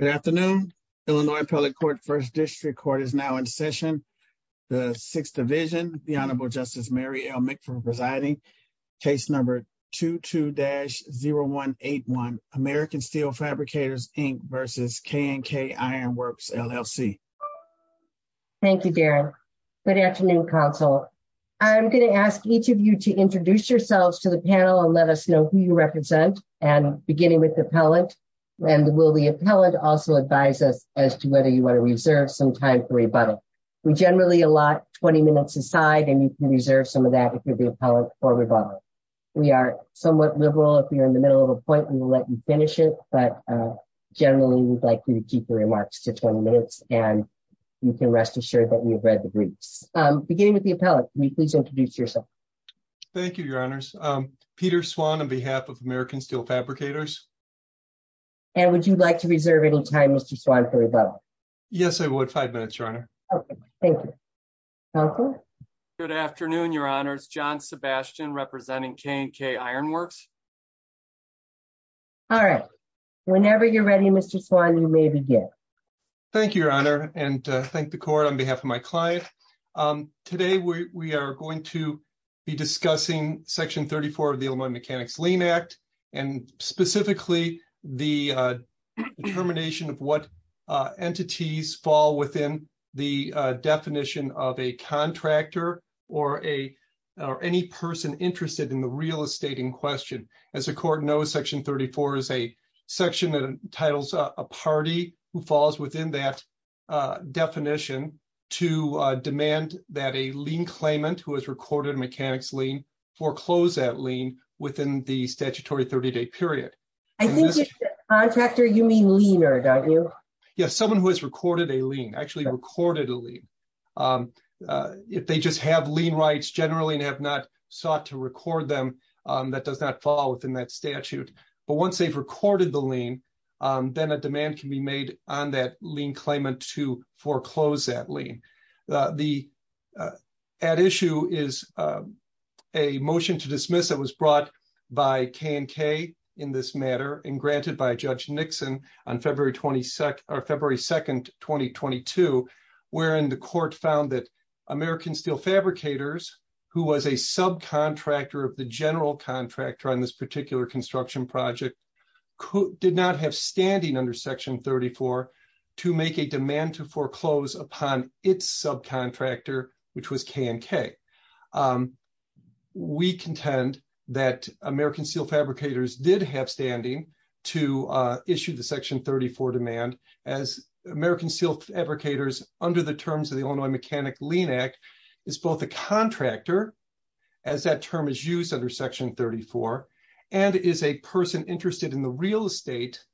Good afternoon. Illinois Appellate Court First District Court is now in session. The Sixth Division, the Honorable Justice Mary L. Mick for presiding. Case number 22-0181, American Steel Fabricators, Inc. v. K & K Iron Works LLC. Thank you, Darren. Good afternoon, Council. I'm going to ask each of you to introduce yourselves to the panel and let us know who you represent, beginning with the appellate, and will the appellate also advise us as to whether you want to reserve some time for rebuttal. We generally allot 20 minutes aside, and you can reserve some of that if you're the appellate for rebuttal. We are somewhat liberal. If you're in the middle of a point, we will let you finish it, but generally we'd like you to keep your remarks to 20 minutes, and you can rest assured that you've read the briefs. Beginning with the appellate, will you please introduce yourself? Thank you, Your Honors. Peter Swan on behalf of American Steel Fabricators. And would you like to reserve any time, Mr. Swan, for rebuttal? Yes, I would. Five minutes, Your Honor. Okay. Thank you. Council? Good afternoon, Your Honors. John Sebastian representing K & K Iron Works. All right. Whenever you're ready, Mr. Swan, you may begin. Thank you, Your Honor, and thank the Court on behalf of my client. Today, we are going to be discussing Section 34 of the Illinois Mechanics Lien Act, and specifically the determination of what entities fall within the definition of a contractor or any person interested in the real estate in question. As the Court knows, Section 34 is a party who falls within that definition to demand that a lien claimant who has recorded a mechanics lien foreclose that lien within the statutory 30-day period. I think if you say contractor, you mean liener, don't you? Yes, someone who has recorded a lien, actually recorded a lien. If they just have lien rights generally and have not sought to record them, that does not fall within that statute. But once they've recorded the lien, then a demand can be made on that lien claimant to foreclose that lien. The at issue is a motion to dismiss that was brought by K & K in this matter and granted by Judge Nixon on February 2, 2022, wherein the Court found that construction project did not have standing under Section 34 to make a demand to foreclose upon its subcontractor, which was K & K. We contend that American Steel Fabricators did have standing to issue the Section 34 demand as American Steel Fabricators under the terms of the Illinois Mechanic Lien Act is both a contractor, as that term is used under Section 34, and is a person interested in the real estate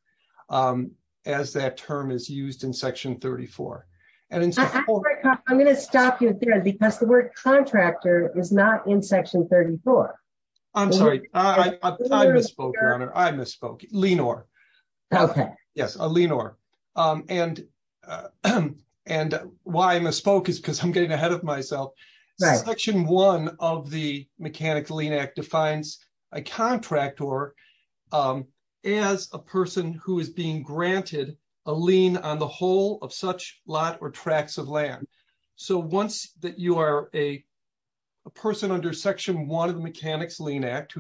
as that term is used in Section 34. I'm going to stop you there because the word contractor is not in Section 34. I'm sorry. I misspoke, Your Honor. I misspoke. Lienor. Okay. Yes, a lienor. And why I misspoke is because I'm getting ahead of myself. Section 1 of the Mechanic Lien Act defines a contractor as a person who is being granted a lien on the whole of such lot or tracts of land. So once that you are a person under Section 1 of the Mechanic Lien Act,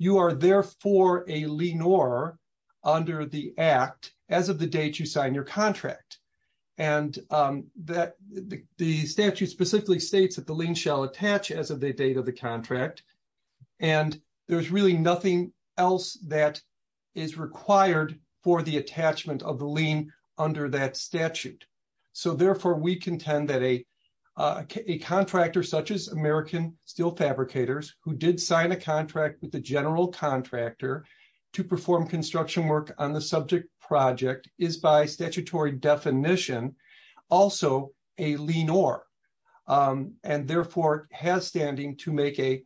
you are for a lienor under the Act as of the date you sign your contract. And the statute specifically states that the lien shall attach as of the date of the contract. And there's really nothing else that is required for the attachment of the lien under that statute. So therefore, we contend that a contractor such as American Steel Fabricators who did sign a contract to perform construction work on the subject project is by statutory definition also a lienor and therefore has standing to make a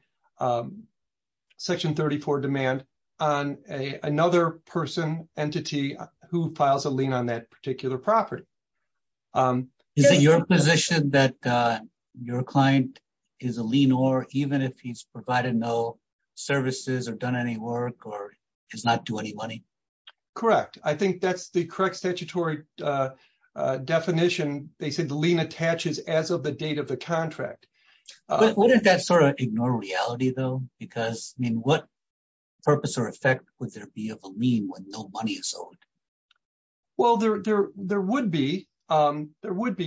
Section 34 demand on another person, entity who files a lien on that particular property. Is it your position that your client is a lienor even if he's provided no services or done any work or does not do any money? Correct. I think that's the correct statutory definition. They said the lien attaches as of the date of the contract. Wouldn't that sort of ignore reality though? Because I mean, what purpose or effect would there be of a lien when no money is owed? Well, there would be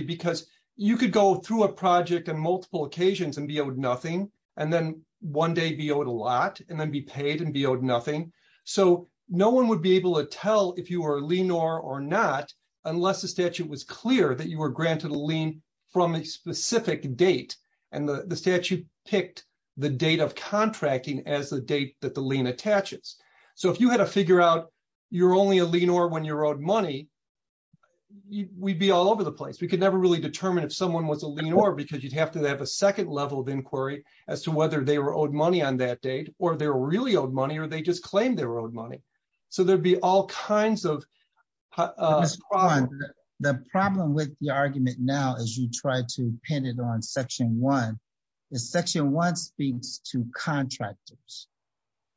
because you could go through a project on multiple occasions and be owed nothing and then one day be owed a lot and then be paid and be owed nothing. So no one would be able to tell if you are a lienor or not unless the statute was clear that you were granted a lien from a specific date. And the statute picked the date of contracting as the date that the when you're owed money, we'd be all over the place. We could never really determine if someone was a lienor because you'd have to have a second level of inquiry as to whether they were owed money on that date or they're really owed money or they just claim they're owed money. So there'd be all kinds of... The problem with the argument now as you try to pin it on Section 1, is Section 1 speaks to contractors.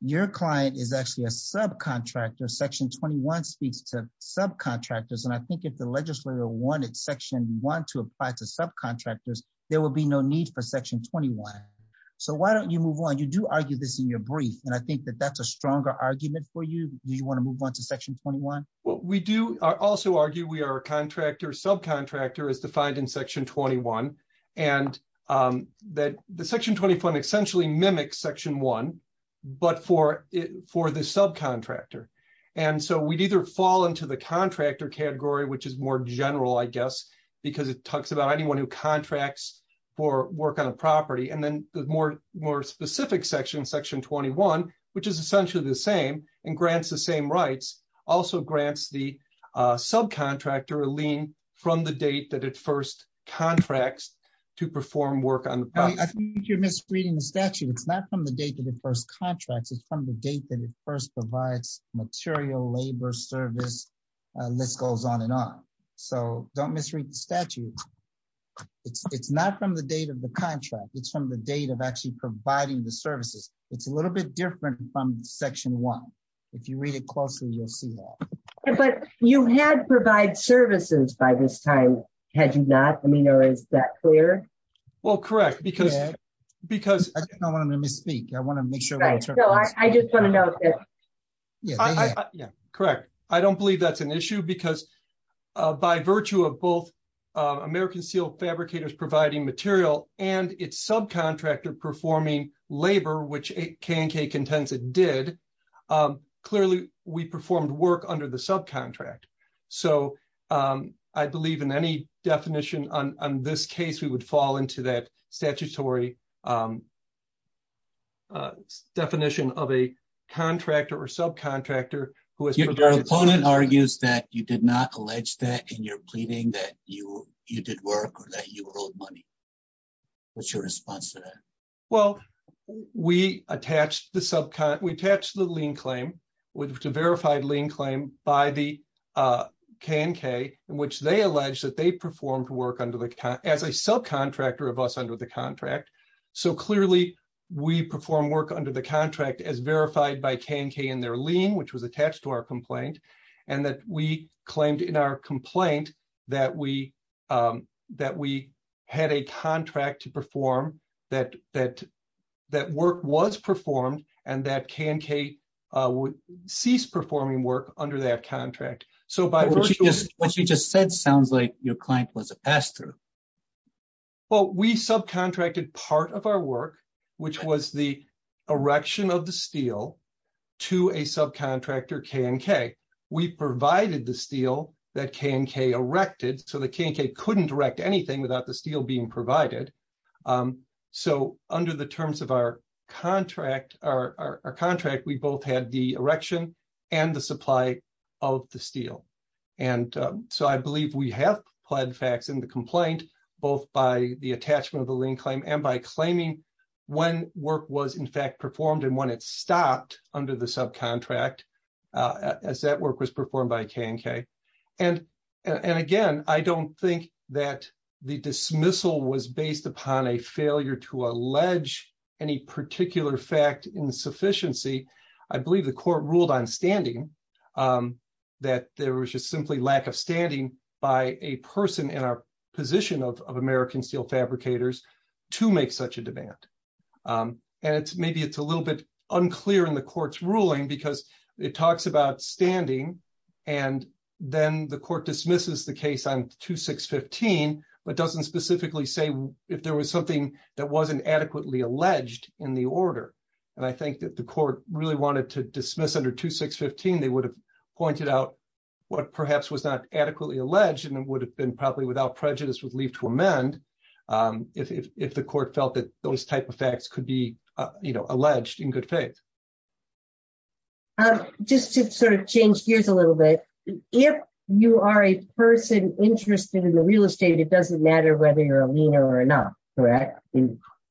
Your client is actually a subcontractor. Section 21 speaks to subcontractors. And I think if the legislature wanted Section 1 to apply to subcontractors, there will be no need for Section 21. So why don't you move on? You do argue this in your brief. And I think that that's a stronger argument for you. Do you want to move on to Section 21? Well, we do also argue we are a contractor. Subcontractor is defined in Section 21. And that the Section 21 essentially mimics Section 1, but for the subcontractor. And so we'd either fall into the contractor category, which is more general, I guess, because it talks about anyone who contracts for work on a property. And then the more specific section, Section 21, which is essentially the same and grants the same rights, also grants the subcontractor a lien from the date that it first contracts to perform work on the property. I think you're misreading the statute. It's not from the date that it first contracts, it's from the date that it first provides material, labor, service, list goes on and on. So don't misread the statute. It's not from the date of the contract. It's from the date of actually providing the services. It's a little bit different from Section 1. If you read it closely, you'll see that. But you had provide services by this time, had you not? I mean, or is that clear? Well, correct. Because I don't want them to misspeak. I want to make sure. I just want to know. Yeah, correct. I don't believe that's an issue because by virtue of both American Seal Fabricators providing material and its subcontractor performing labor, which K&K Contensa did, clearly we performed work under the subcontract. So I believe in any definition on this case, we would fall into that statutory definition of a contractor or subcontractor. Your opponent argues that you did not allege that in your pleading that you did work or that you owed money. What's your response to that? Well, we attached the lien claim, which is a verified lien claim by the K&K, in which they allege that they performed work as a subcontractor of us under the contract. So clearly, we perform work under the contract as verified by K&K in their lien, which was attached to our complaint, and that we claimed in our complaint that we had a contract to perform, that work was performed, and that K&K would cease performing work under that contract. What you just said sounds like your client was a pastor. Well, we subcontracted part of our work, which was the erection of the steel, to a subcontractor, K&K. We provided the steel that K&K erected, so the K&K couldn't erect anything without the steel being provided. So under the terms of our contract, we both had the erection and the supply of the steel. And so I believe we have pled facts in the complaint, both by the attachment of the lien claim and by claiming when work was in fact performed and when it stopped under the subcontract, as that work was performed by K&K. And again, I don't think that the dismissal was based upon a failure to allege any particular fact insufficiency. I believe the court ruled on standing, that there was just simply lack of standing by a person in our position of American Steel Fabricators to make such a demand. And maybe it's a little bit unclear in the court's ruling because it talks about standing, and then the court dismisses the case on 2615, but doesn't specifically say if there was something that wasn't adequately alleged in the order. And I think that the court really wanted to dismiss under 2615, they would have pointed out what perhaps was not adequately alleged, and it would have been probably without prejudice with leave to amend, if the court felt that those type of facts could be, you know, in good faith. Just to sort of change gears a little bit, if you are a person interested in the real estate, it doesn't matter whether you're a lien or not, correct?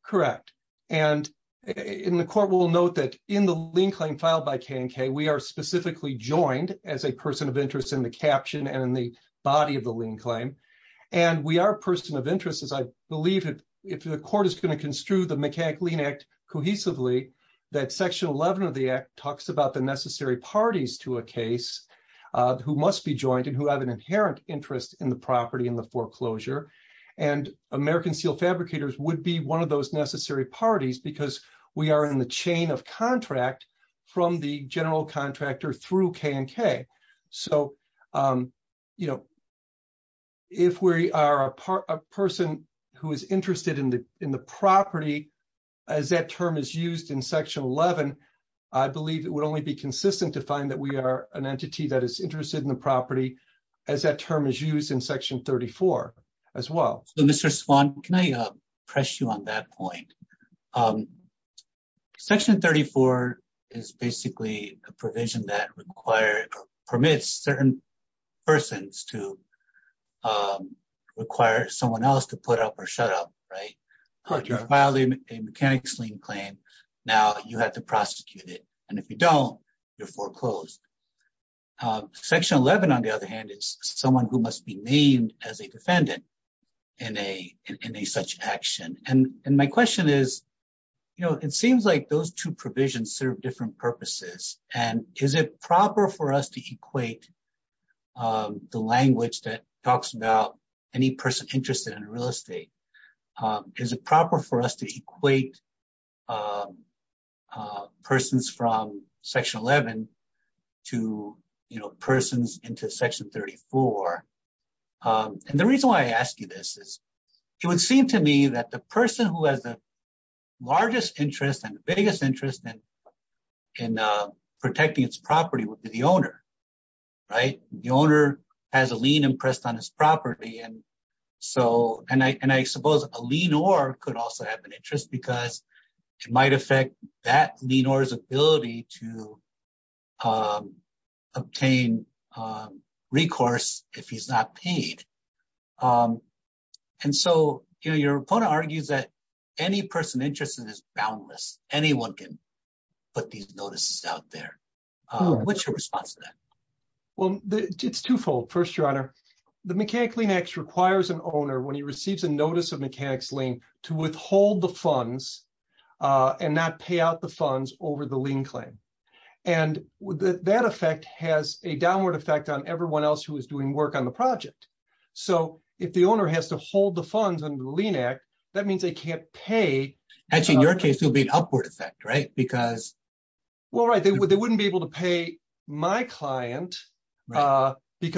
Correct. And in the court, we'll note that in the lien claim filed by K&K, we are specifically joined as a person of interest in the caption and in the body of the lien claim. And we are a person of interest, as I believe if the court is going to construe the Mechanic-Lien Act cohesively, that Section 11 of the Act talks about the necessary parties to a case who must be joined and who have an inherent interest in the property and the foreclosure. And American Steel Fabricators would be one of those necessary parties because we are in the chain of contract from the general contractor through K&K. So, you know, if we are a person who is interested in the property, as that term is used in Section 11, I believe it would only be consistent to find that we are an entity that is interested in the property, as that term is used in Section 34 as well. Mr. Swan, can I press you on that point? Section 34 is basically a provision that permits certain persons to require someone else to put up or shut up, right? Correct. If you file a Mechanic-Lien claim, now you have to prosecute it. And if you don't, you're foreclosed. Section 11, on the other hand, is someone who must be named as a defendant in a such action. And my question is, you know, it seems like those two provisions serve different purposes. And is it proper for us to equate the language that talks about any person interested in real estate? Is it proper for us to equate persons from Section 11 to, you know, persons into Section 34? And the reason why I ask you this is, it would seem to me that the person who has the largest interest and the biggest interest in protecting its property would be the owner, right? The owner has a lien impressed on his property. And I suppose a lienor could also have an interest because it might affect that lienor's ability to obtain recourse if he's not paid. And so, you know, your opponent argues that any person interested is boundless. Anyone can put these notices out there. What's your response to that? Well, it's twofold. First, Your Honor, the Mechanic-Lien Act requires an owner, when he receives a notice of mechanic's lien, to withhold the funds and not pay out the funds over the lien claim. And that effect has a downward effect on everyone else who is doing work on the project. So, if the owner has to hold the funds under the Lien Act, that means they can't pay... Actually, in your case, it would be an upward effect, right? Because... Because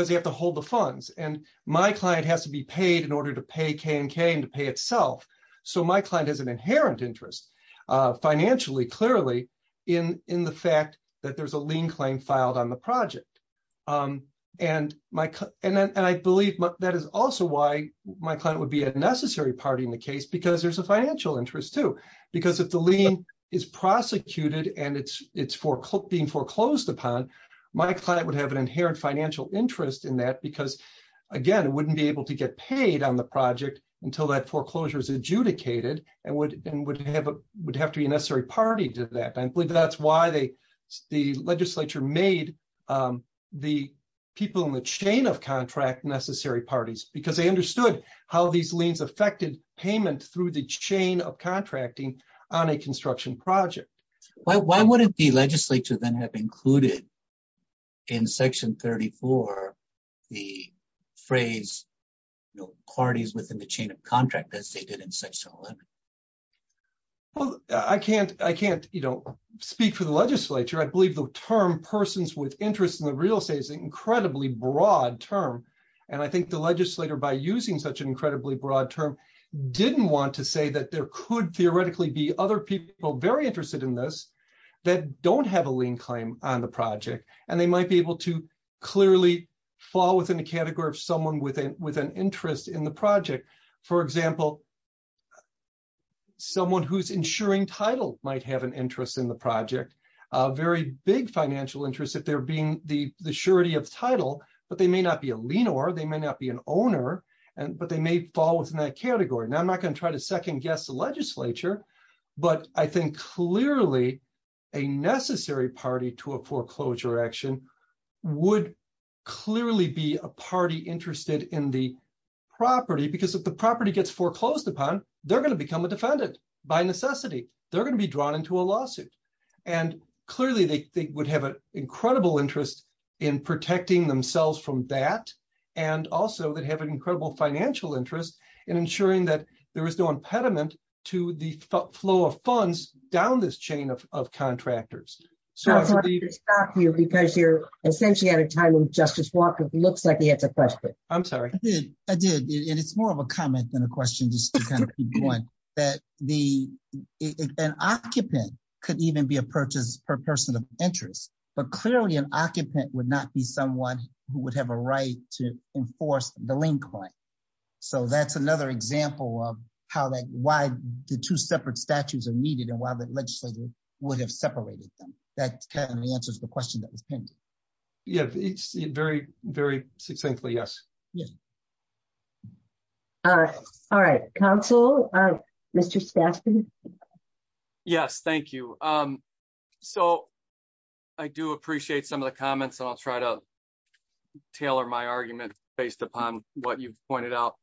you have to hold the funds. And my client has to be paid in order to pay K&K and to pay itself. So, my client has an inherent interest, financially, clearly, in the fact that there's a lien claim filed on the project. And I believe that is also why my client would be a necessary party in the case because there's a financial interest too. Because if the lien is prosecuted and it's being foreclosed upon, my client would have an inherent financial interest in that because, again, it wouldn't be able to get paid on the project until that foreclosure is adjudicated and would have to be a necessary party to that. And I believe that's why the legislature made the people in the chain of contract necessary parties, because they understood how these liens affected payment through the chain of contracting on a construction project. Why wouldn't the legislature then have included in Section 34, the phrase parties within the chain of contract as they did in Section 11? Well, I can't speak for the legislature. I believe the term persons with interests in the real estate is an incredibly broad term. And I think the legislator, by using such an incredibly broad term, didn't want to say that there could theoretically be other people very interested in this that don't have a lien claim on the project. And they might be able to clearly fall within the category of someone with an interest in the project. For example, someone who's insuring title might have an interest in the project, a very big financial interest if they're being the surety of title, but they may not be a lien or they may not be an owner, but they may fall within that category. Now, I'm not trying to second guess the legislature, but I think clearly a necessary party to a foreclosure action would clearly be a party interested in the property, because if the property gets foreclosed upon, they're going to become a defendant by necessity. They're going to be drawn into a lawsuit. And clearly, they would have an incredible interest in protecting themselves from that, and also that have an incredible financial interest in ensuring that there is no impediment to the flow of funds down this chain of contractors. I'm sorry to stop you because you're essentially at a time when Justice Walker looks like he has a question. I'm sorry. I did. It's more of a comment than a question, just to kind of keep going, that an occupant could even be a purchase per person of interest, but clearly an occupant would not be someone who would have a right to enforce the lien claim. So that's another example of how that, why the two separate statutes are needed and why the legislature would have separated them. That kind of answers the question that was pinned. Yeah, it's very, very succinctly, yes. Yeah. All right. All right. Counsel, Mr. Stafford? Yes, thank you. So I do appreciate some of the comments, and I'll try to tailor my argument based upon what you've pointed out.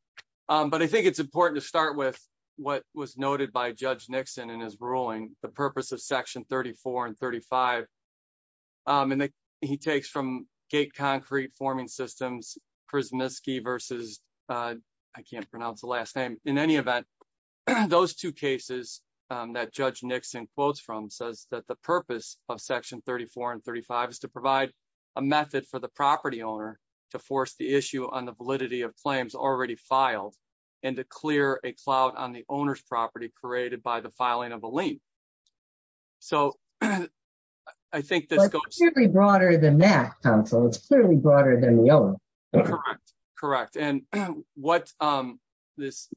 But I think it's important to start with what was noted by Judge Nixon in his ruling, the purpose of Section 34 and 35. And he takes from gate concrete forming systems, Prismiski versus, I can't pronounce the last name. In any event, those two cases that Judge Nixon quotes from says that the purpose of Section 34 and 35 is to to force the issue on the validity of claims already filed and to clear a clout on the owner's property created by the filing of a lien. So I think this goes- It's clearly broader than that, counsel. It's clearly broader than the other. Correct. Correct. And what this,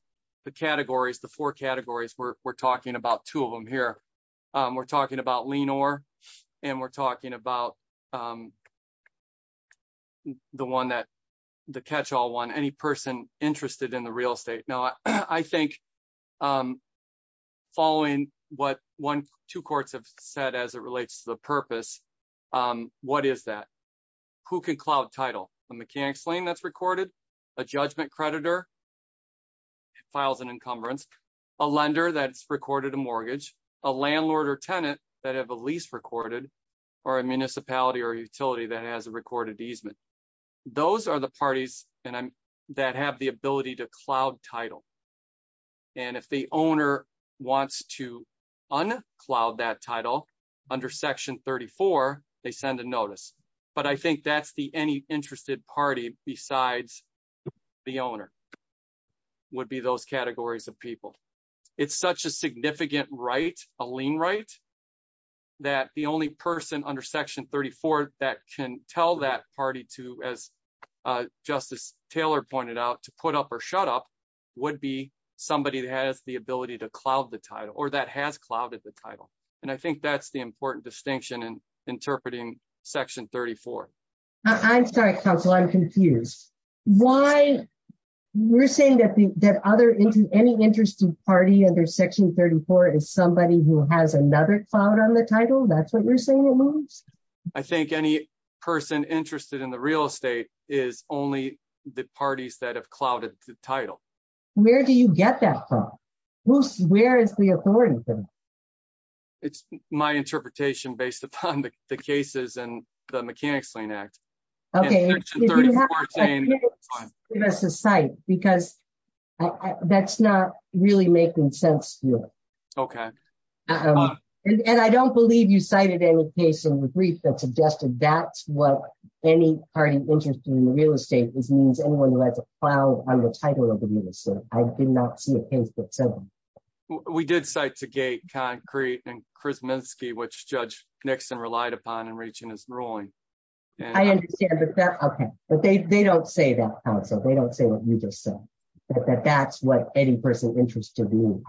the categories, the four categories, we're talking about two of them here. We're talking about lien or, and we're the catch-all one, any person interested in the real estate. Now, I think following what two courts have said as it relates to the purpose, what is that? Who can clout title? A mechanics lien that's recorded, a judgment creditor files an encumbrance, a lender that's recorded a mortgage, a landlord or tenant that have a lease recorded, or a municipality or utility that has a recorded easement. Those are the parties that have the ability to clout title. And if the owner wants to unclout that title under Section 34, they send a notice. But I think that's the any interested party besides the owner would be those categories of people. It's such a significant right, a lien right, that the only person under Section 34 that can tell that party to, as Justice Taylor pointed out, to put up or shut up, would be somebody that has the ability to clout the title, or that has clouted the title. And I think that's the important distinction in interpreting Section 34. I'm sorry, counsel, I'm confused. Why, we're saying that other, any interested party under Section 34 is somebody who has another clout on the title? That's what you're saying it moves? I think any person interested in the real estate is only the parties that have clouted the title. Where do you get that from? Who's, where is the authority from? It's my interpretation based upon the cases and the Mechanics Lien Act. Okay, give us a site because that's not really making sense here. Okay. And I don't believe you cited any case in the brief that suggested that's what any party interested in the real estate is means anyone who has a clout on the title of the minister. I did not see a case that said we did cite to gate concrete and Chris Minsky, which Judge Nixon relied upon in reaching his ruling. I understand that. Okay, but they don't say that, counsel, they don't say what you just said, that that's what any person interested in.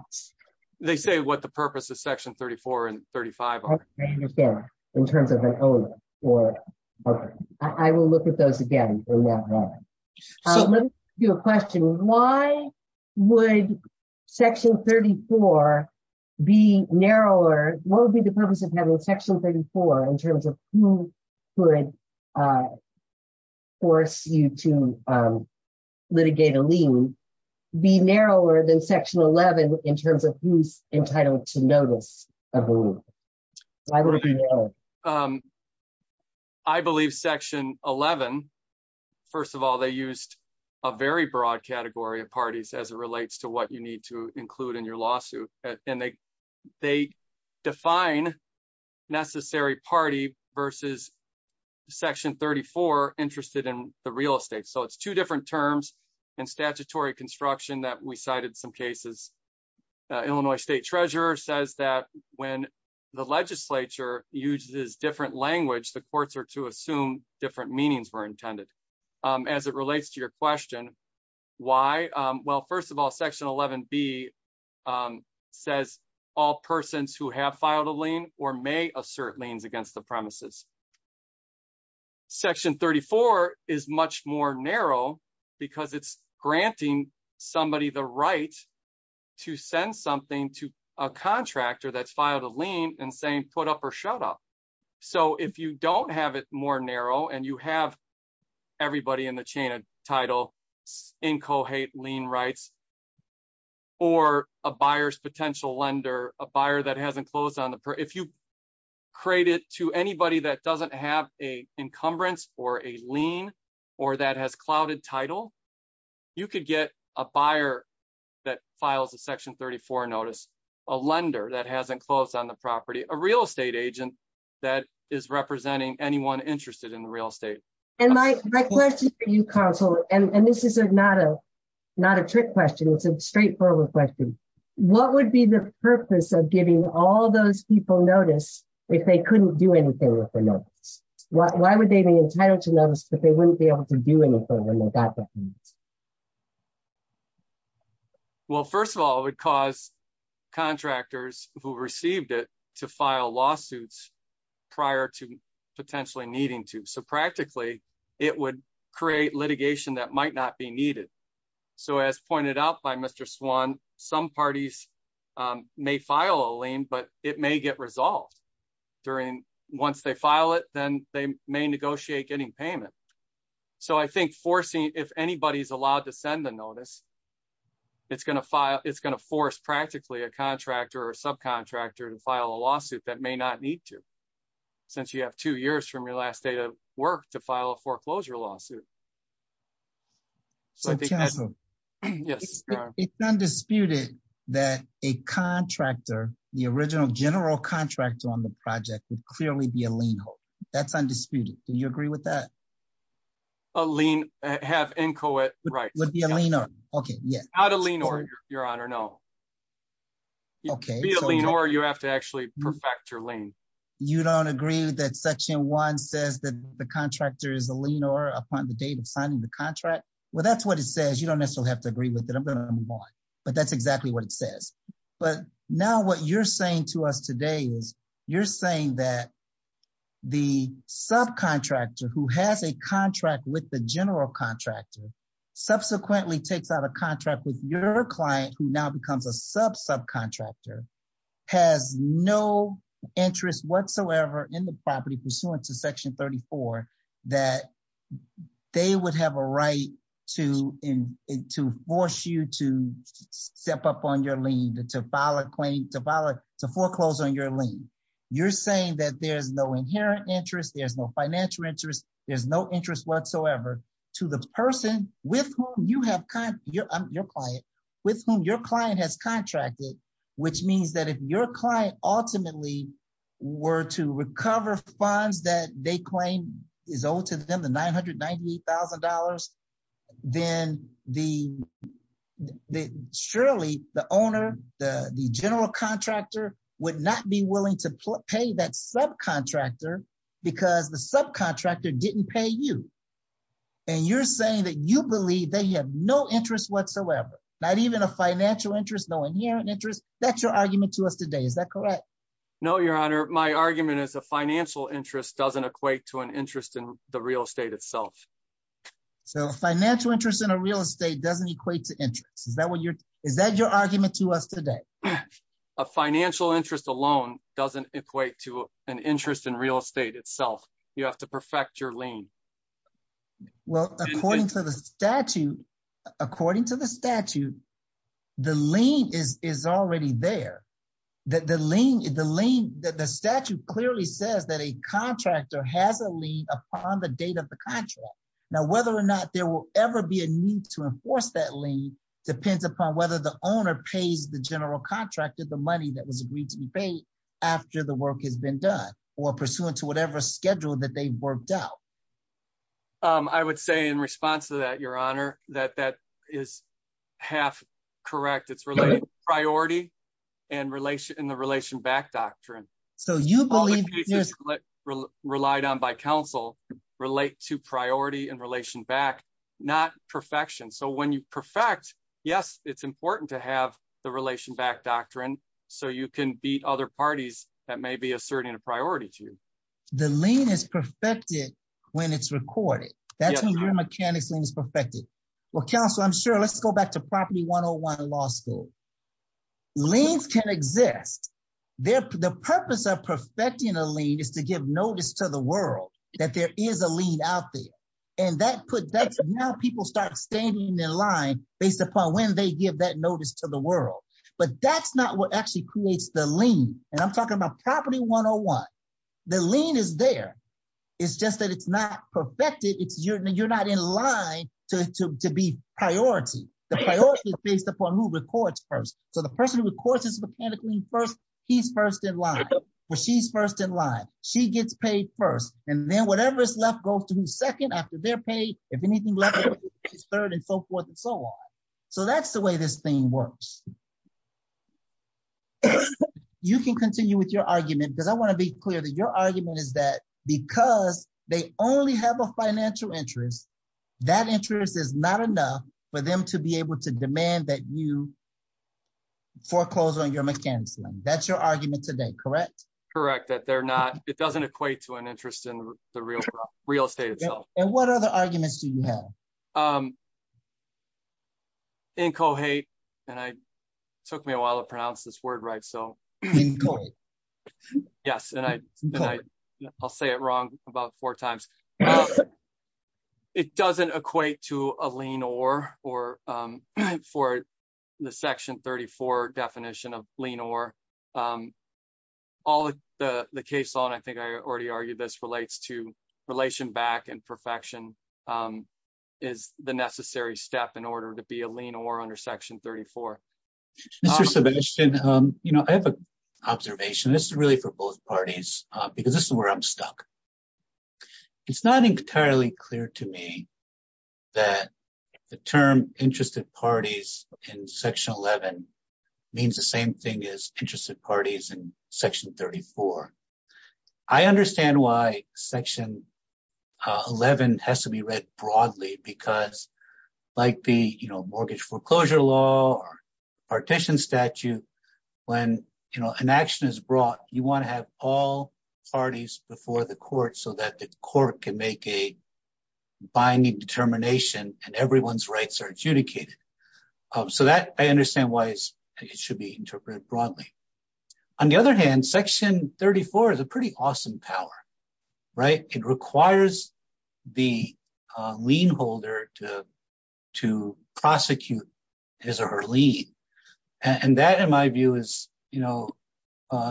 They say what the purpose of Section 34 and 35 are. I understand, in terms of an owner, or I will look at those again. Let me ask you a question. Why would Section 34 be narrower? What would be the purpose of having Section 34 in terms of who could force you to litigate a lien? Be narrower than Section 11 in terms of who's entitled to notice? Why would it be? I believe Section 11, first of all, they used a very broad category of parties as it relates to you need to include in your lawsuit. They define necessary party versus Section 34 interested in the real estate. It's two different terms and statutory construction that we cited some cases. Illinois State Treasurer says that when the legislature uses different language, the courts are to assume different meanings were intended. As it relates to your question, why? Well, first of all, Section 11B says all persons who have filed a lien or may assert liens against the premises. Section 34 is much more narrow because it's granting somebody the right to send something to a contractor that's filed a lien and saying, put up or shut up. So if you don't have it more narrow and you have everybody in the chain of title, incohate lien rights, or a buyer's potential lender, a buyer that hasn't closed on the... If you create it to anybody that doesn't have a encumbrance or a lien or that has clouded title, you could get a buyer that files a Section 34 notice, a lender that hasn't closed on the property, a real estate agent that is representing anyone interested in the real estate. And my question for you, counsel, and this is not a trick question. It's a straightforward question. What would be the purpose of giving all those people notice if they couldn't do anything with the notice? Why would they be entitled to notice if they wouldn't be able to do anything? Well, first of all, it would cause contractors who received it to file lawsuits prior to potentially needing to. So practically, it would create litigation that might not be needed. So as pointed out by Mr. Swan, some parties may file a lien, but it may get resolved during... So I think forcing, if anybody's allowed to send the notice, it's going to force practically a contractor or subcontractor to file a lawsuit that may not need to, since you have two years from your last day of work to file a foreclosure lawsuit. So counsel, it's undisputed that a contractor, the original general contractor on the project, would clearly be a lien holder. That's undisputed. Do you agree with that? A lien, have inchoate rights. Would be a lien holder. Okay. Yes. Not a lien holder, your honor, no. Okay. If you're a lien holder, you have to actually perfect your lien. You don't agree that section one says that the contractor is a lien holder upon the date of signing the contract? Well, that's what it says. You don't necessarily have to agree with it. I'm going to move on, but that's exactly what it says. But now what you're saying to us today is you're saying that the subcontractor who has a contract with the general contractor subsequently takes out a contract with your client, who now becomes a sub subcontractor, has no interest whatsoever in the property pursuant to section 34, that they would have a to force you to step up on your lien, to file a claim, to foreclose on your lien. You're saying that there's no inherent interest, there's no financial interest, there's no interest whatsoever to the person with whom you have, your client, with whom your client has contracted, which means that if your client ultimately were to recover funds that they claim is owed to them, the $998,000, then the, surely the owner, the general contractor would not be willing to pay that subcontractor because the subcontractor didn't pay you. And you're saying that you believe they have no interest whatsoever, not even a financial interest, no inherent interest. That's your your honor. My argument is a financial interest doesn't equate to an interest in the real estate itself. So financial interest in a real estate doesn't equate to interest. Is that what you're, is that your argument to us today? A financial interest alone doesn't equate to an interest in real estate itself. You have to perfect your lien. Well, according to the statute, according to the statute, the lien is already there. The lien, the statute clearly says that a contractor has a lien upon the date of the contract. Now, whether or not there will ever be a need to enforce that lien depends upon whether the owner pays the general contractor the money that was agreed to be paid after the work has been done or pursuant to whatever schedule that they worked out. I would say in response to that, your honor, that that is half correct. It's related priority and relation in the relation back doctrine. So you believe relied on by counsel relate to priority in relation back, not perfection. So when you perfect, yes, it's important to have the relation back doctrine. So you can beat other parties that may be asserting a priority to you. The lien is perfected when it's recorded. That's when your mechanics lien is perfected. Well, counsel, I'm sure let's go back to property one-on-one law school. Liens can exist. The purpose of perfecting a lien is to give notice to the world that there is a lien out there. And that put that now people start standing in line based upon when they give that notice to the world. But that's not what actually creates the property one-on-one. The lien is there. It's just that it's not perfected. It's you're not in line to be priority. The priority is based upon who records first. So the person who records his mechanic lien first, he's first in line. Well, she's first in line. She gets paid first. And then whatever is left goes to the second after they're paid. If anything left, it's third and so forth and so on. So that's the way this thing works. You can continue with your argument because I want to be clear that your argument is that because they only have a financial interest, that interest is not enough for them to be able to demand that you foreclose on your mechanics lien. That's your argument today, correct? Correct. That they're not, it doesn't equate to an interest in the real estate itself. And what took me a while to pronounce this word, right? So yes. And I I'll say it wrong about four times. It doesn't equate to a lien or for the section 34 definition of lien or all the case law. And I think I already argued this relates to relation back and perfection is the necessary step in section 34. Mr. Sebastian, I have an observation. This is really for both parties because this is where I'm stuck. It's not entirely clear to me that the term interested parties in section 11 means the same thing as interested parties in section 34. I understand why section 11 has to read broadly because like the mortgage foreclosure law or partition statute, when an action is brought, you want to have all parties before the court so that the court can make a binding determination and everyone's rights are adjudicated. So that I understand why it should be interpreted a lien holder to prosecute his or her lien. And that in my view is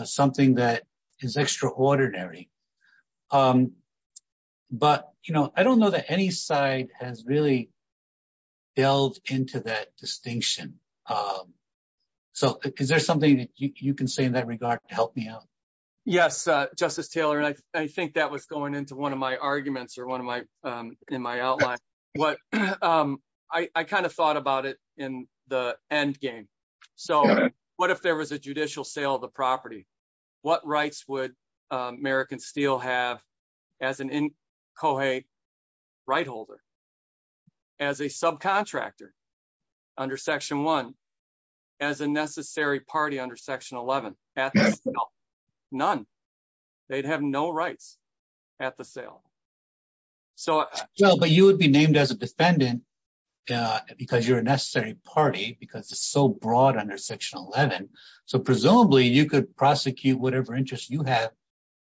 something that is extraordinary. But I don't know that any side has really delved into that distinction. So is there something that you can say in that regard to help me out? Yes, Justice Taylor. And I think that was going into one of my arguments or one of my in my outline, what I kind of thought about it in the endgame. So what if there was a judicial sale of the property? What rights would American Steel have as an in cohey right holder as a subcontractor under section one as a necessary party under section 11 None. They'd have no rights at the sale. So you know, but you would be named as a defendant because you're a necessary party because it's so broad under section 11. So presumably, you could prosecute whatever interest you have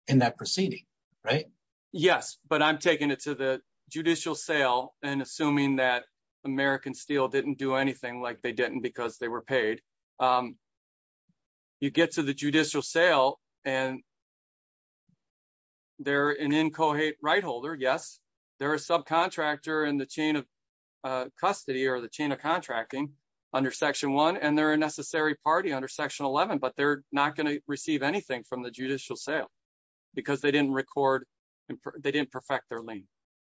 in that proceeding, right? Yes, but I'm taking it to the judicial sale and assuming that American Steel didn't do anything like they didn't because they were paid. You get to the judicial sale, and they're an incohate right holder. Yes, they're a subcontractor in the chain of custody or the chain of contracting under section one, and they're a necessary party under section 11. But they're not going to receive anything from the judicial sale, because they didn't record they didn't perfect their lien.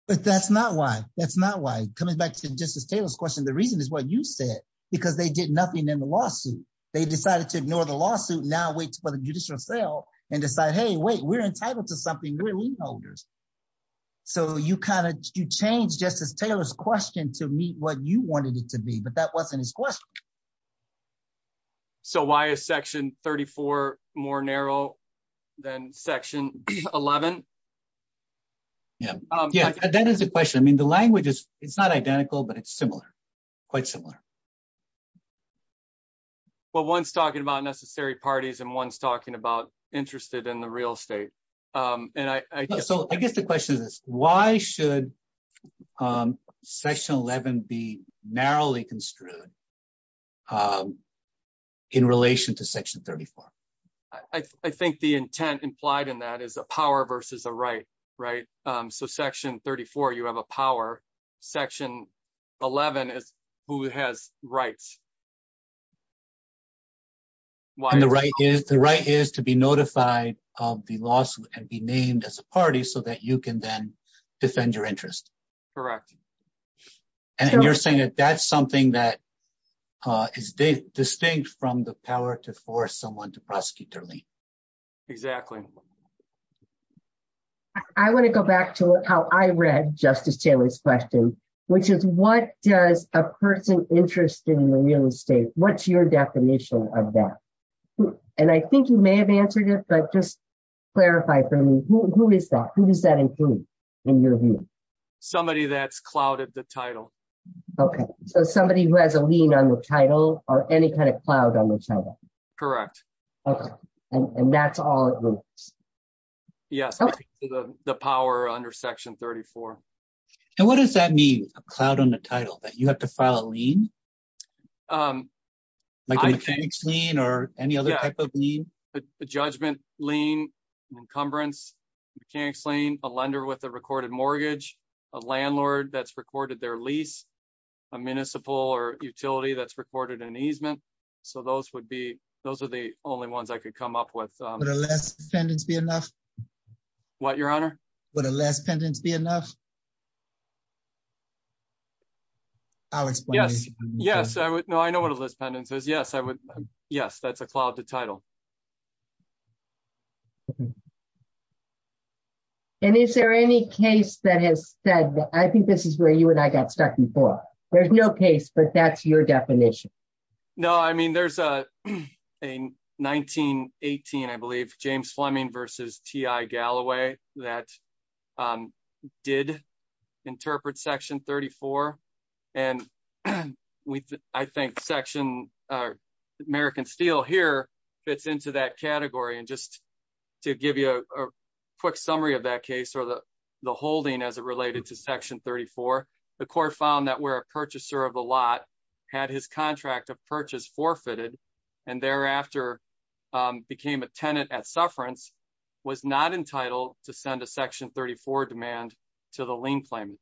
But that's not why that's not why coming back to Justice Taylor's question. The reason is what you said, because they did nothing in the lawsuit. They decided to ignore the lawsuit now waits for the judicial sale and decide, hey, wait, we're entitled to something really holders. So you kind of change Justice Taylor's question to meet what you wanted it to be. But that wasn't his question. So why is section 34 more narrow than section 11? Yeah, yeah, that is a question. I mean, the language is it's not identical, but it's similar, quite similar. Well, one's talking about necessary parties and one's talking about interested in the real estate. And I guess the question is, why should section 11 be narrowly construed in relation to section 34? I think the intent implied in that is a power versus a right, right? So section 34, you have a power section 11 is who has rights. The right is the right is to be notified of the lawsuit and be named as a party so that you can then defend your interest. Correct. And you're saying that that's something that is distinct from the power to force someone to prosecute early. Exactly. I want to go back to how I read Justice Taylor's question, which is what does a person interested in the real estate? What's your definition of that? And I think you may have answered it, but just clarify for me, who is that? Who does that include in your view? Somebody that's clouded the title. Okay. So somebody who has a lien on the title or any kind of cloud on the title. Correct. Okay. And that's all it was. Yes. The power under section 34. And what does that mean? A cloud on the title that you have to file a lien? Like a mechanics lien or any other type of lien? A judgment lien, encumbrance, mechanics lien, a lender with a recorded mortgage, a landlord that's recorded their lease, a municipal or utility that's recorded an easement. So those would be, those are the only ones I could come up with. Would a less pendants be enough? What, your honor? Would a less pendants be enough? I'll explain. Yes. Yes, I would. No, I know what a less pendants is. Yes, I would. Yes, that's a cloud to title. Okay. And is there any case that has said that I think this is where you and I got stuck before? There's no case, but that's your definition. No, I mean, there's a 1918, I believe James Fleming versus T.I. Galloway that did interpret section 34 and I think section American Steel here fits into that category. And just to give you a quick summary of that case or the holding as it related to section 34, the court found that where a purchaser of a lot had his contract of purchase forfeited and thereafter became a tenant at sufferance, was not entitled to send a section 34 demand to the lien claimant.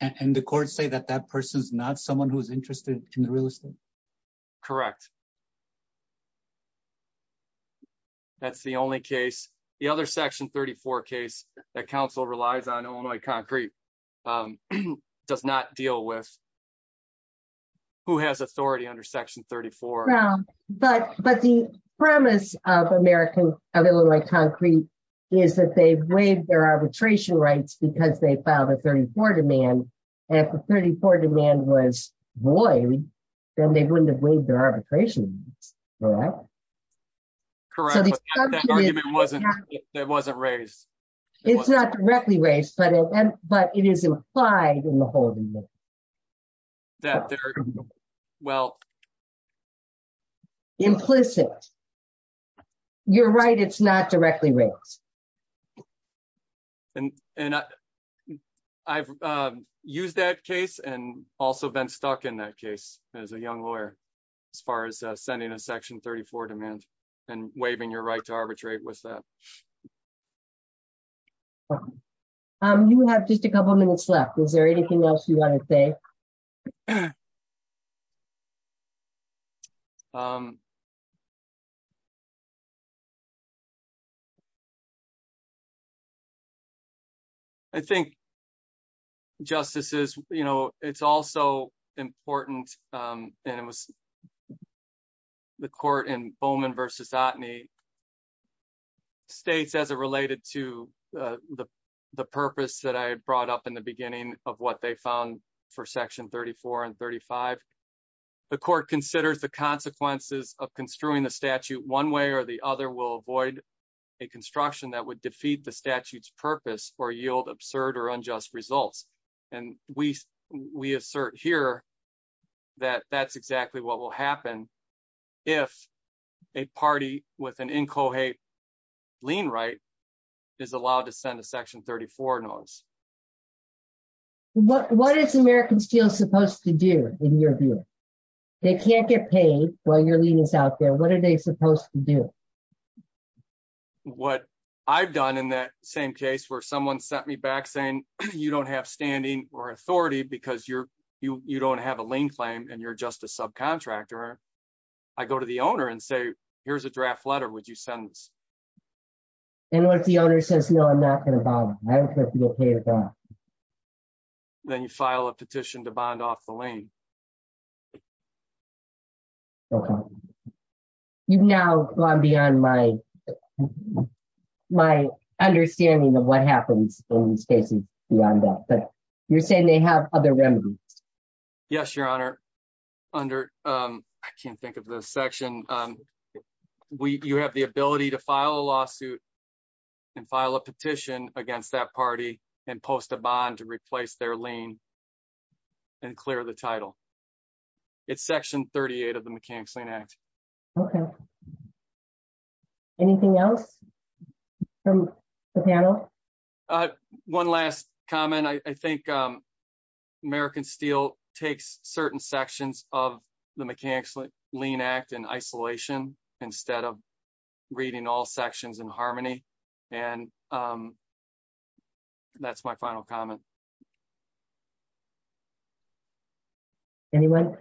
And the courts say that that person's not someone who's interested in the real estate. Correct. That's the only case, the other section 34 case that counsel relies on Illinois Concrete does not deal with who has authority under section 34. But the premise of Illinois Concrete is that they waive their arbitration rights because they filed a 34 demand and if the 34 demand was waived, then they wouldn't have waived their arbitration rights, correct? Correct, but that argument wasn't raised. It's not directly raised, but it is implied in the holding. Well. Implicit. You're right, it's not directly raised. And, and I've used that case and also been stuck in that case as a young lawyer, as far as sending a section 34 demand and waiving your right to arbitrate with that. You have just a couple minutes left, is there anything else you want to say? I think. Justices, you know, it's also important, and it was the court in Bowman versus Ottney. States as it related to the purpose that I brought up in the beginning of what they found for section 34 and 35. The court considers the consequences of construing the statute one way or the other will avoid a construction that would defeat the statute's purpose or yield absurd or unjust results. And we, we assert here that that's exactly what will happen if a party with an incohate lien right is allowed to send a section 34 notice. What is American Steel supposed to do in your view? They can't get paid while your lien is out there, what are they supposed to do? What I've done in that same case where someone sent me back saying, you don't have standing or authority because you're, you don't have a lien claim and you're just a subcontractor. I go to the owner and say, here's a draft letter, would you send this? And what if the owner says, no, I'm not going to bother. Then you file a petition to bond off the lien. Okay. You've now gone beyond my, my understanding of what happens in these cases beyond that, but you're saying they have other remedies. Yes, your honor. Under, um, I can't think of the section. We, you have the ability to file a lawsuit and file a petition against that party and post a bond to replace their lien and clear the title. It's section 38 of the Mechanics Lien Act. Okay. Anything else from the panel? Uh, one last comment. I think, um, American Steel takes certain sections of the Mechanics Lien Act in isolation instead of reading all sections in harmony. And, um, that's my final comment. Anyone?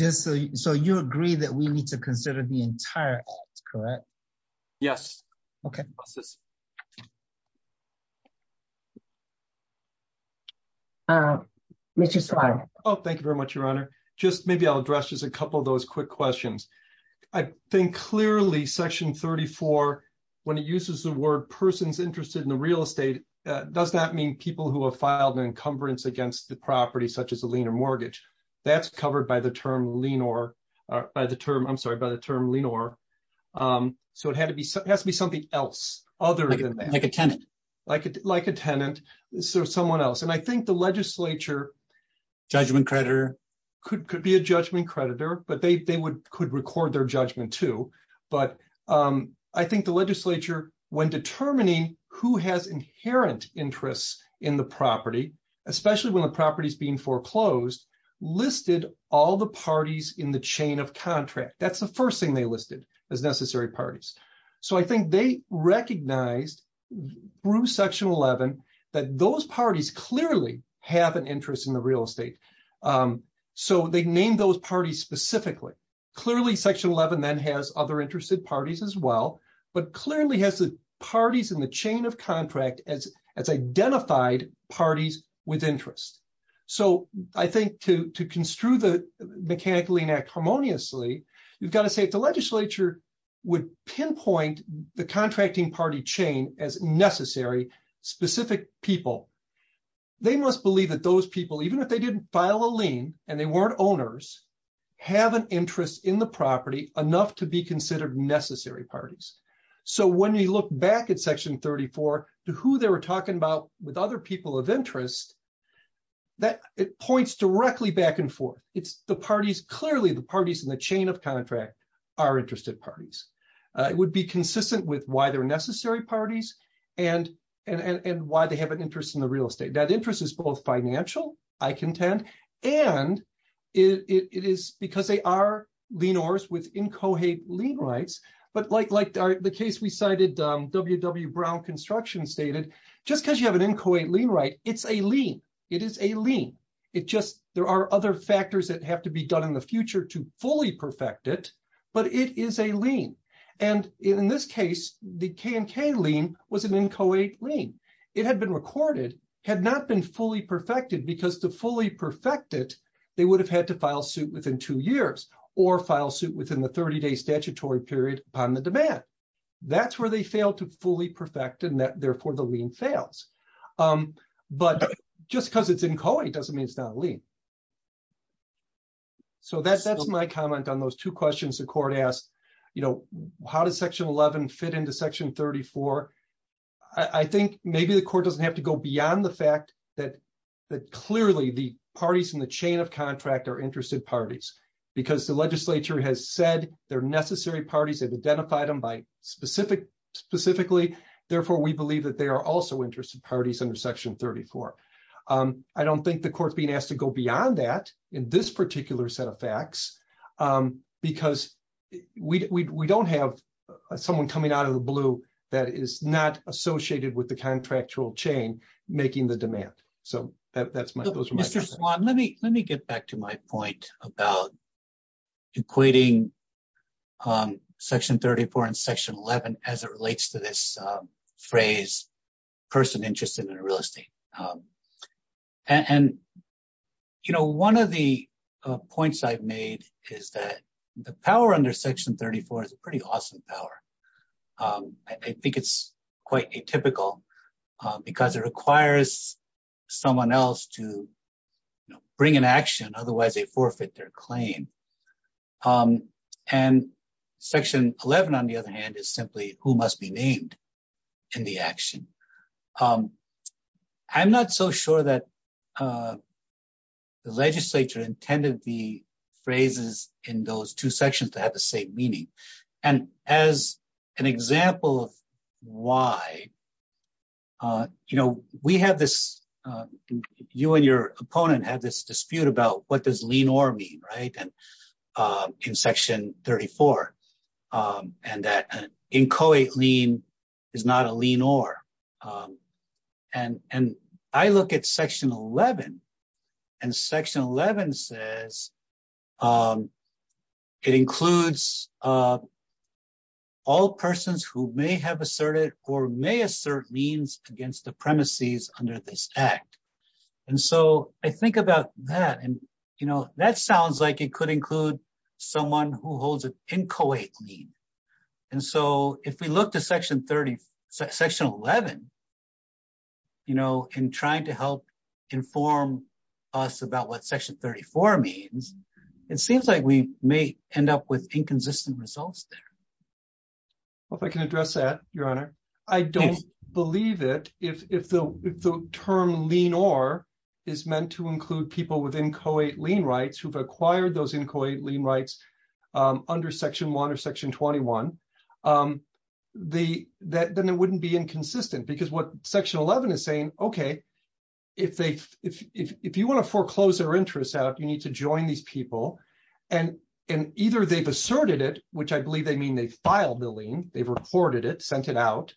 So you agree that we need to consider the entire act, correct? Yes. Okay. Uh, Mr. Swann. Oh, thank you very much, your honor. Just maybe I'll address just a couple of those quick questions. I think clearly section 34, when it uses the word person's interested in the real estate, uh, does not mean people who have filed an encumbrance against the property, such as a lien or mortgage. That's covered by the term lien or by the term, I'm sorry, by the term lien or, um, so it had to be, it has to be something else other than that. Like a tenant. Like a, like a tenant. So someone else, and I think the legislature. Judgment creditor. Could be a judgment creditor, but they, they would, could record their judgment too. But, um, I think the legislature when determining who has inherent interests in the property, especially when the property is being foreclosed, listed all the parties in the chain of contract. That's the first thing they listed as necessary parties. So I think they recognized through section 11, that those parties clearly have an interest in the real estate. Um, so they named those parties specifically. Clearly section 11 then has other interested parties as well, but clearly has the parties in the chain of contract as, as identified parties with interest. So I think to, to construe the Mechanical Lien Act harmoniously, you've got to say if the legislature would pinpoint the contracting party chain as necessary specific people. They must believe that those people, even if they didn't file a lien and they weren't owners, have an interest in the property enough to be considered necessary parties. So when you look back at section 34 to who they were talking about with other people of interest. That it points directly back and forth. It's the parties, clearly the parties in the chain of contract are interested parties. It would be consistent with why they're necessary parties and, and why they have an interest in the real estate. That interest is both financial, I contend, and it is because they are lienors with incohate lien rights. But like, like the case we cited, WW Brown Construction stated, just because you have an incohate lien right, it's a lien. It is a lien. It just, there are other factors that have to be done in the future to fully perfect it, but it is a lien. And in this case, the KNK lien was an incohate lien. It had been recorded, had not been fully perfected because to fully perfect it, they would have had to file suit within two years or file suit within the 30-day statutory period upon the demand. That's where they failed to fully perfect and therefore the lien fails. But just because it's incohate doesn't mean it's not a lien. So that's my comment on those two questions the court asked, you know, how does section 11 fit into section 34? I think maybe the court doesn't have to go beyond the fact that, that clearly the parties in the chain of contract are interested parties because the legislature has said they're necessary parties, they've identified them by specific, specifically, therefore we believe that they are also interested parties under section 34. I don't think the court's being asked to go beyond that in this particular set of facts because we don't have someone coming out of the blue that is not associated with the contractual chain making the demand. So that's my, those are my thoughts. Mr. Swan, let me get back to my point about equating section 34 and section 11 as it relates to this phrase, person interested in real estate. And, you know, one of the points I've made is that the power under section 34 is a pretty awesome power. I think it's quite atypical because it requires someone else to, you know, and section 11, on the other hand, is simply who must be named in the action. I'm not so sure that the legislature intended the phrases in those two sections to have the same meaning. And as an example of why, you know, we have this, you and your opponent have this in section 34 and that an inchoate lien is not a lien or. And I look at section 11 and section 11 says it includes all persons who may have asserted or may assert means against the premises under this act. And so I think about that and, you know, that sounds like it could include someone who holds an inchoate lien. And so if we look to section 30, section 11, you know, in trying to help inform us about what section 34 means, it seems like we may end up with inconsistent results there. Well, if I can address that, your honor, I don't believe it. If the term lien or is meant to inchoate lien rights under section one or section 21, then it wouldn't be inconsistent because what section 11 is saying, okay, if you want to foreclose their interest out, you need to join these people. And either they've asserted it, which I believe they mean they filed the lien, they've recorded it, sent it out,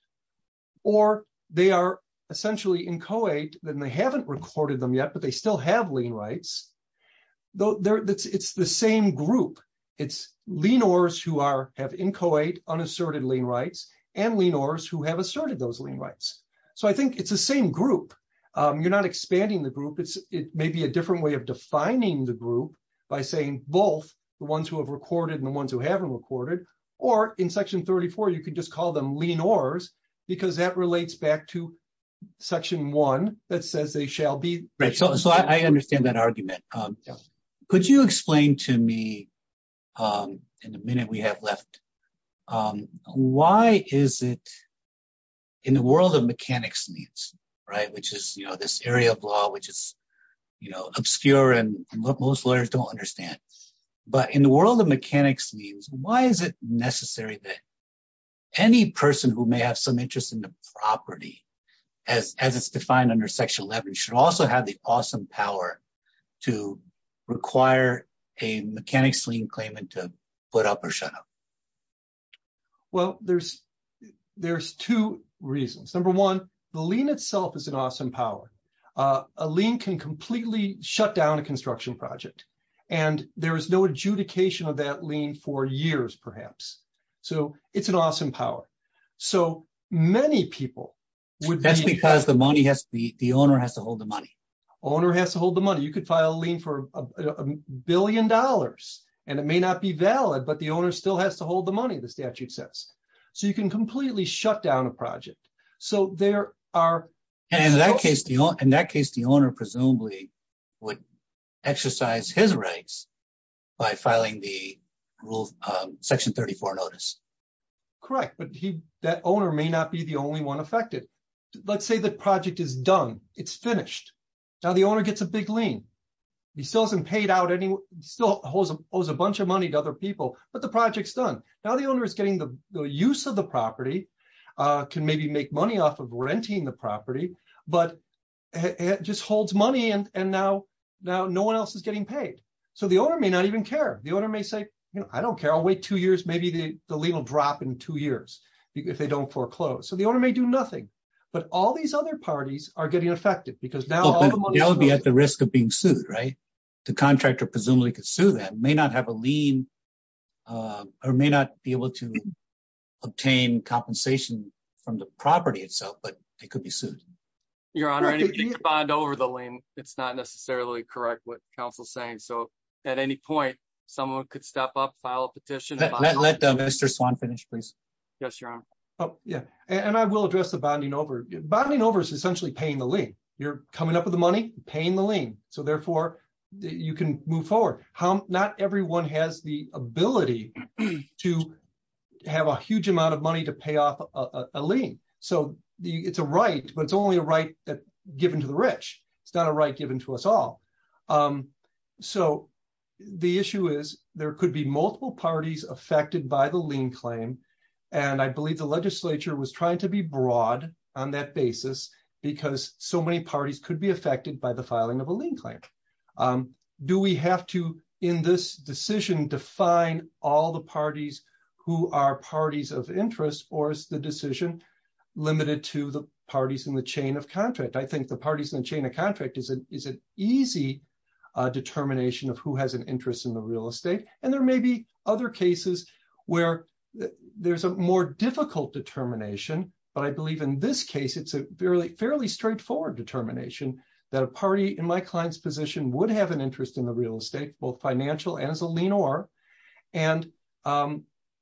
or they are essentially inchoate, then they haven't recorded them yet, but they still have lien rights. It's the same group. It's lien ors who have inchoate unasserted lien rights and lien ors who have asserted those lien rights. So I think it's the same group. You're not expanding the group. It may be a different way of defining the group by saying both the ones who have recorded and the ones who haven't recorded, or in section 34, you can just So I understand that argument. Could you explain to me in the minute we have left, why is it in the world of mechanics liens, which is this area of law, which is obscure and most lawyers don't understand, but in the world of mechanics liens, why is it necessary that any person who may have some interest in the property, as it's defined under section 11, should also have the awesome power to require a mechanics lien claimant to put up or shut up? Well, there's two reasons. Number one, the lien itself is an awesome power. A lien can completely shut down a construction project, and there is no adjudication of that lien for years, perhaps. So it's an awesome power. So many people would That's because the money has to be, the owner has to hold the money. Owner has to hold the money. You could file a lien for a billion dollars, and it may not be valid, but the owner still has to hold the money, the statute says. So you can completely shut down a project. So there are... And in that case, the owner presumably would exercise his rights by filing the rule, section 34 notice. Correct, but that owner may not be the only one affected. Let's say the project is done. It's finished. Now the owner gets a big lien. He still hasn't paid out any... Still owes a bunch of money to other people, but the project's done. Now the owner is getting the use of the property, can maybe make money off of renting the property, but just holds money, and now no one else is getting paid. So the owner may not even care. The owner may say, I don't care. I'll wait two years. Maybe the lien will drop in two years if they don't foreclose. So the owner may do nothing, but all these other parties are getting affected because now... They'll be at the risk of being sued, right? The contractor presumably could sue them, may not have a lien or may not be able to obtain compensation from the property itself, but they could be sued. Your Honor, if you bond over the lien, it's not necessarily correct what counsel's saying. So at any point, someone could step up, file a petition. Let Mr. Swan finish, please. Yes, Your Honor. Yeah. And I will address the bonding over. Bonding over is essentially paying the lien. You're coming up with the money, paying the lien. So therefore, you can move forward. Not everyone has the ability to have a huge amount of money to pay off a lien. So it's a right, but it's only a right given to the rich. It's not a right given to us all. So the issue is there could be multiple parties affected by the lien claim. And I believe the legislature was trying to be broad on that basis because so many parties could be affected by the filing of a lien claim. Do we have to, in this decision, define all the parties who are parties of interest or is the decision limited to the parties in the chain of contract? I think the parties in the chain of contract is an easy determination of who has an interest in the real estate. And there may be other cases where there's a more difficult determination. But I believe in this case, it's a fairly straightforward determination that a party in my client's position would have an interest in the real estate, both financial and as a lien or, and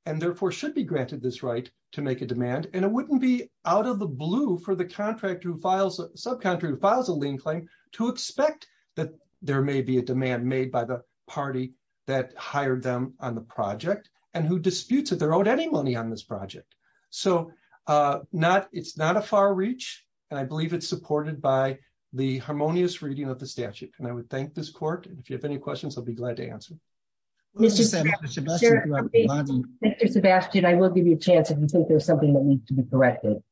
therefore should be granted this right to make a demand. And it wouldn't be out of the blue for the subcontractor who files a lien claim to expect that there may be a demand made by the party that hired them on the project and who disputes if they're owed any money on this project. So it's not a far reach, and I believe it's supported by the harmonious reading of the statute. And I would thank this court. And if you have any questions, I'll be glad to answer. Mr. Sebastian, I will give you a chance if you think there's something that needs to be corrected.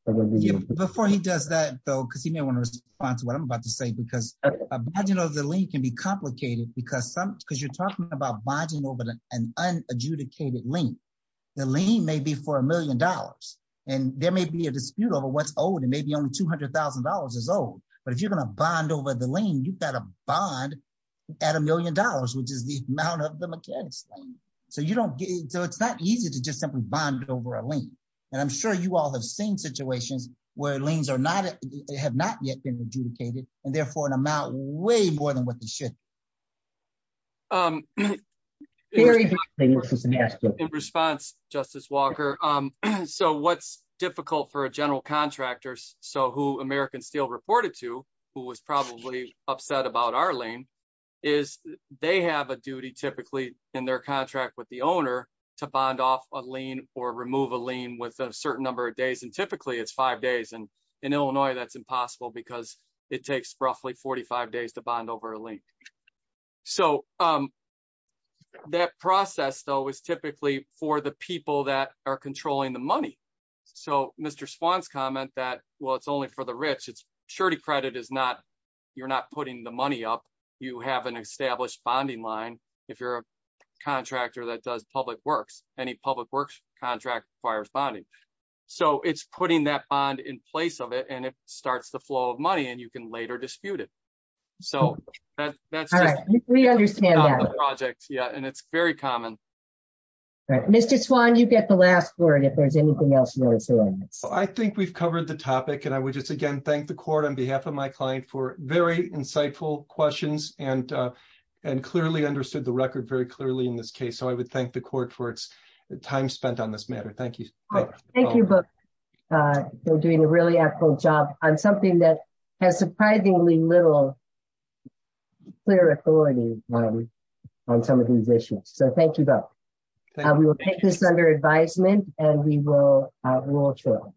Before he does that, though, because he may want to respond to what I'm about to say, because, you know, the lien can be complicated, because some because you're talking about bonding over an unadjudicated lien, the lien may be for a million dollars. And there may be a dispute over what's owed and maybe only $200,000 is owed. But if you're going to bond over the lien, you've got a bond at a million dollars, which is the amount of the mechanics. So you have seen situations where liens have not yet been adjudicated, and therefore an amount way more than what they should. In response, Justice Walker, so what's difficult for a general contractor, so who American Steel reported to, who was probably upset about our lien, is they have a duty typically in their contract with the owner to bond off a lien or remove a typically it's five days. And in Illinois, that's impossible, because it takes roughly 45 days to bond over a lien. So that process, though, is typically for the people that are controlling the money. So Mr. Swann's comment that, well, it's only for the rich, it's surety credit is not, you're not putting the money up, you have an established bonding line. If you're a contractor that does public works, any public works contract requires bonding. So it's putting that bond in place of it, and it starts the flow of money, and you can later dispute it. So we understand and it's very common. Mr. Swann, you get the last word if there's anything else. I think we've covered the topic. And I would just again, thank the court on behalf of my client for very insightful questions and, and clearly understood the record very clearly in this case. So I would thank the court for its time spent on this matter. Thank you. Thank you both for doing a really helpful job on something that has surprisingly little clear authority on some of these issues. So thank you both. We will take this under advisement, and we will withdraw.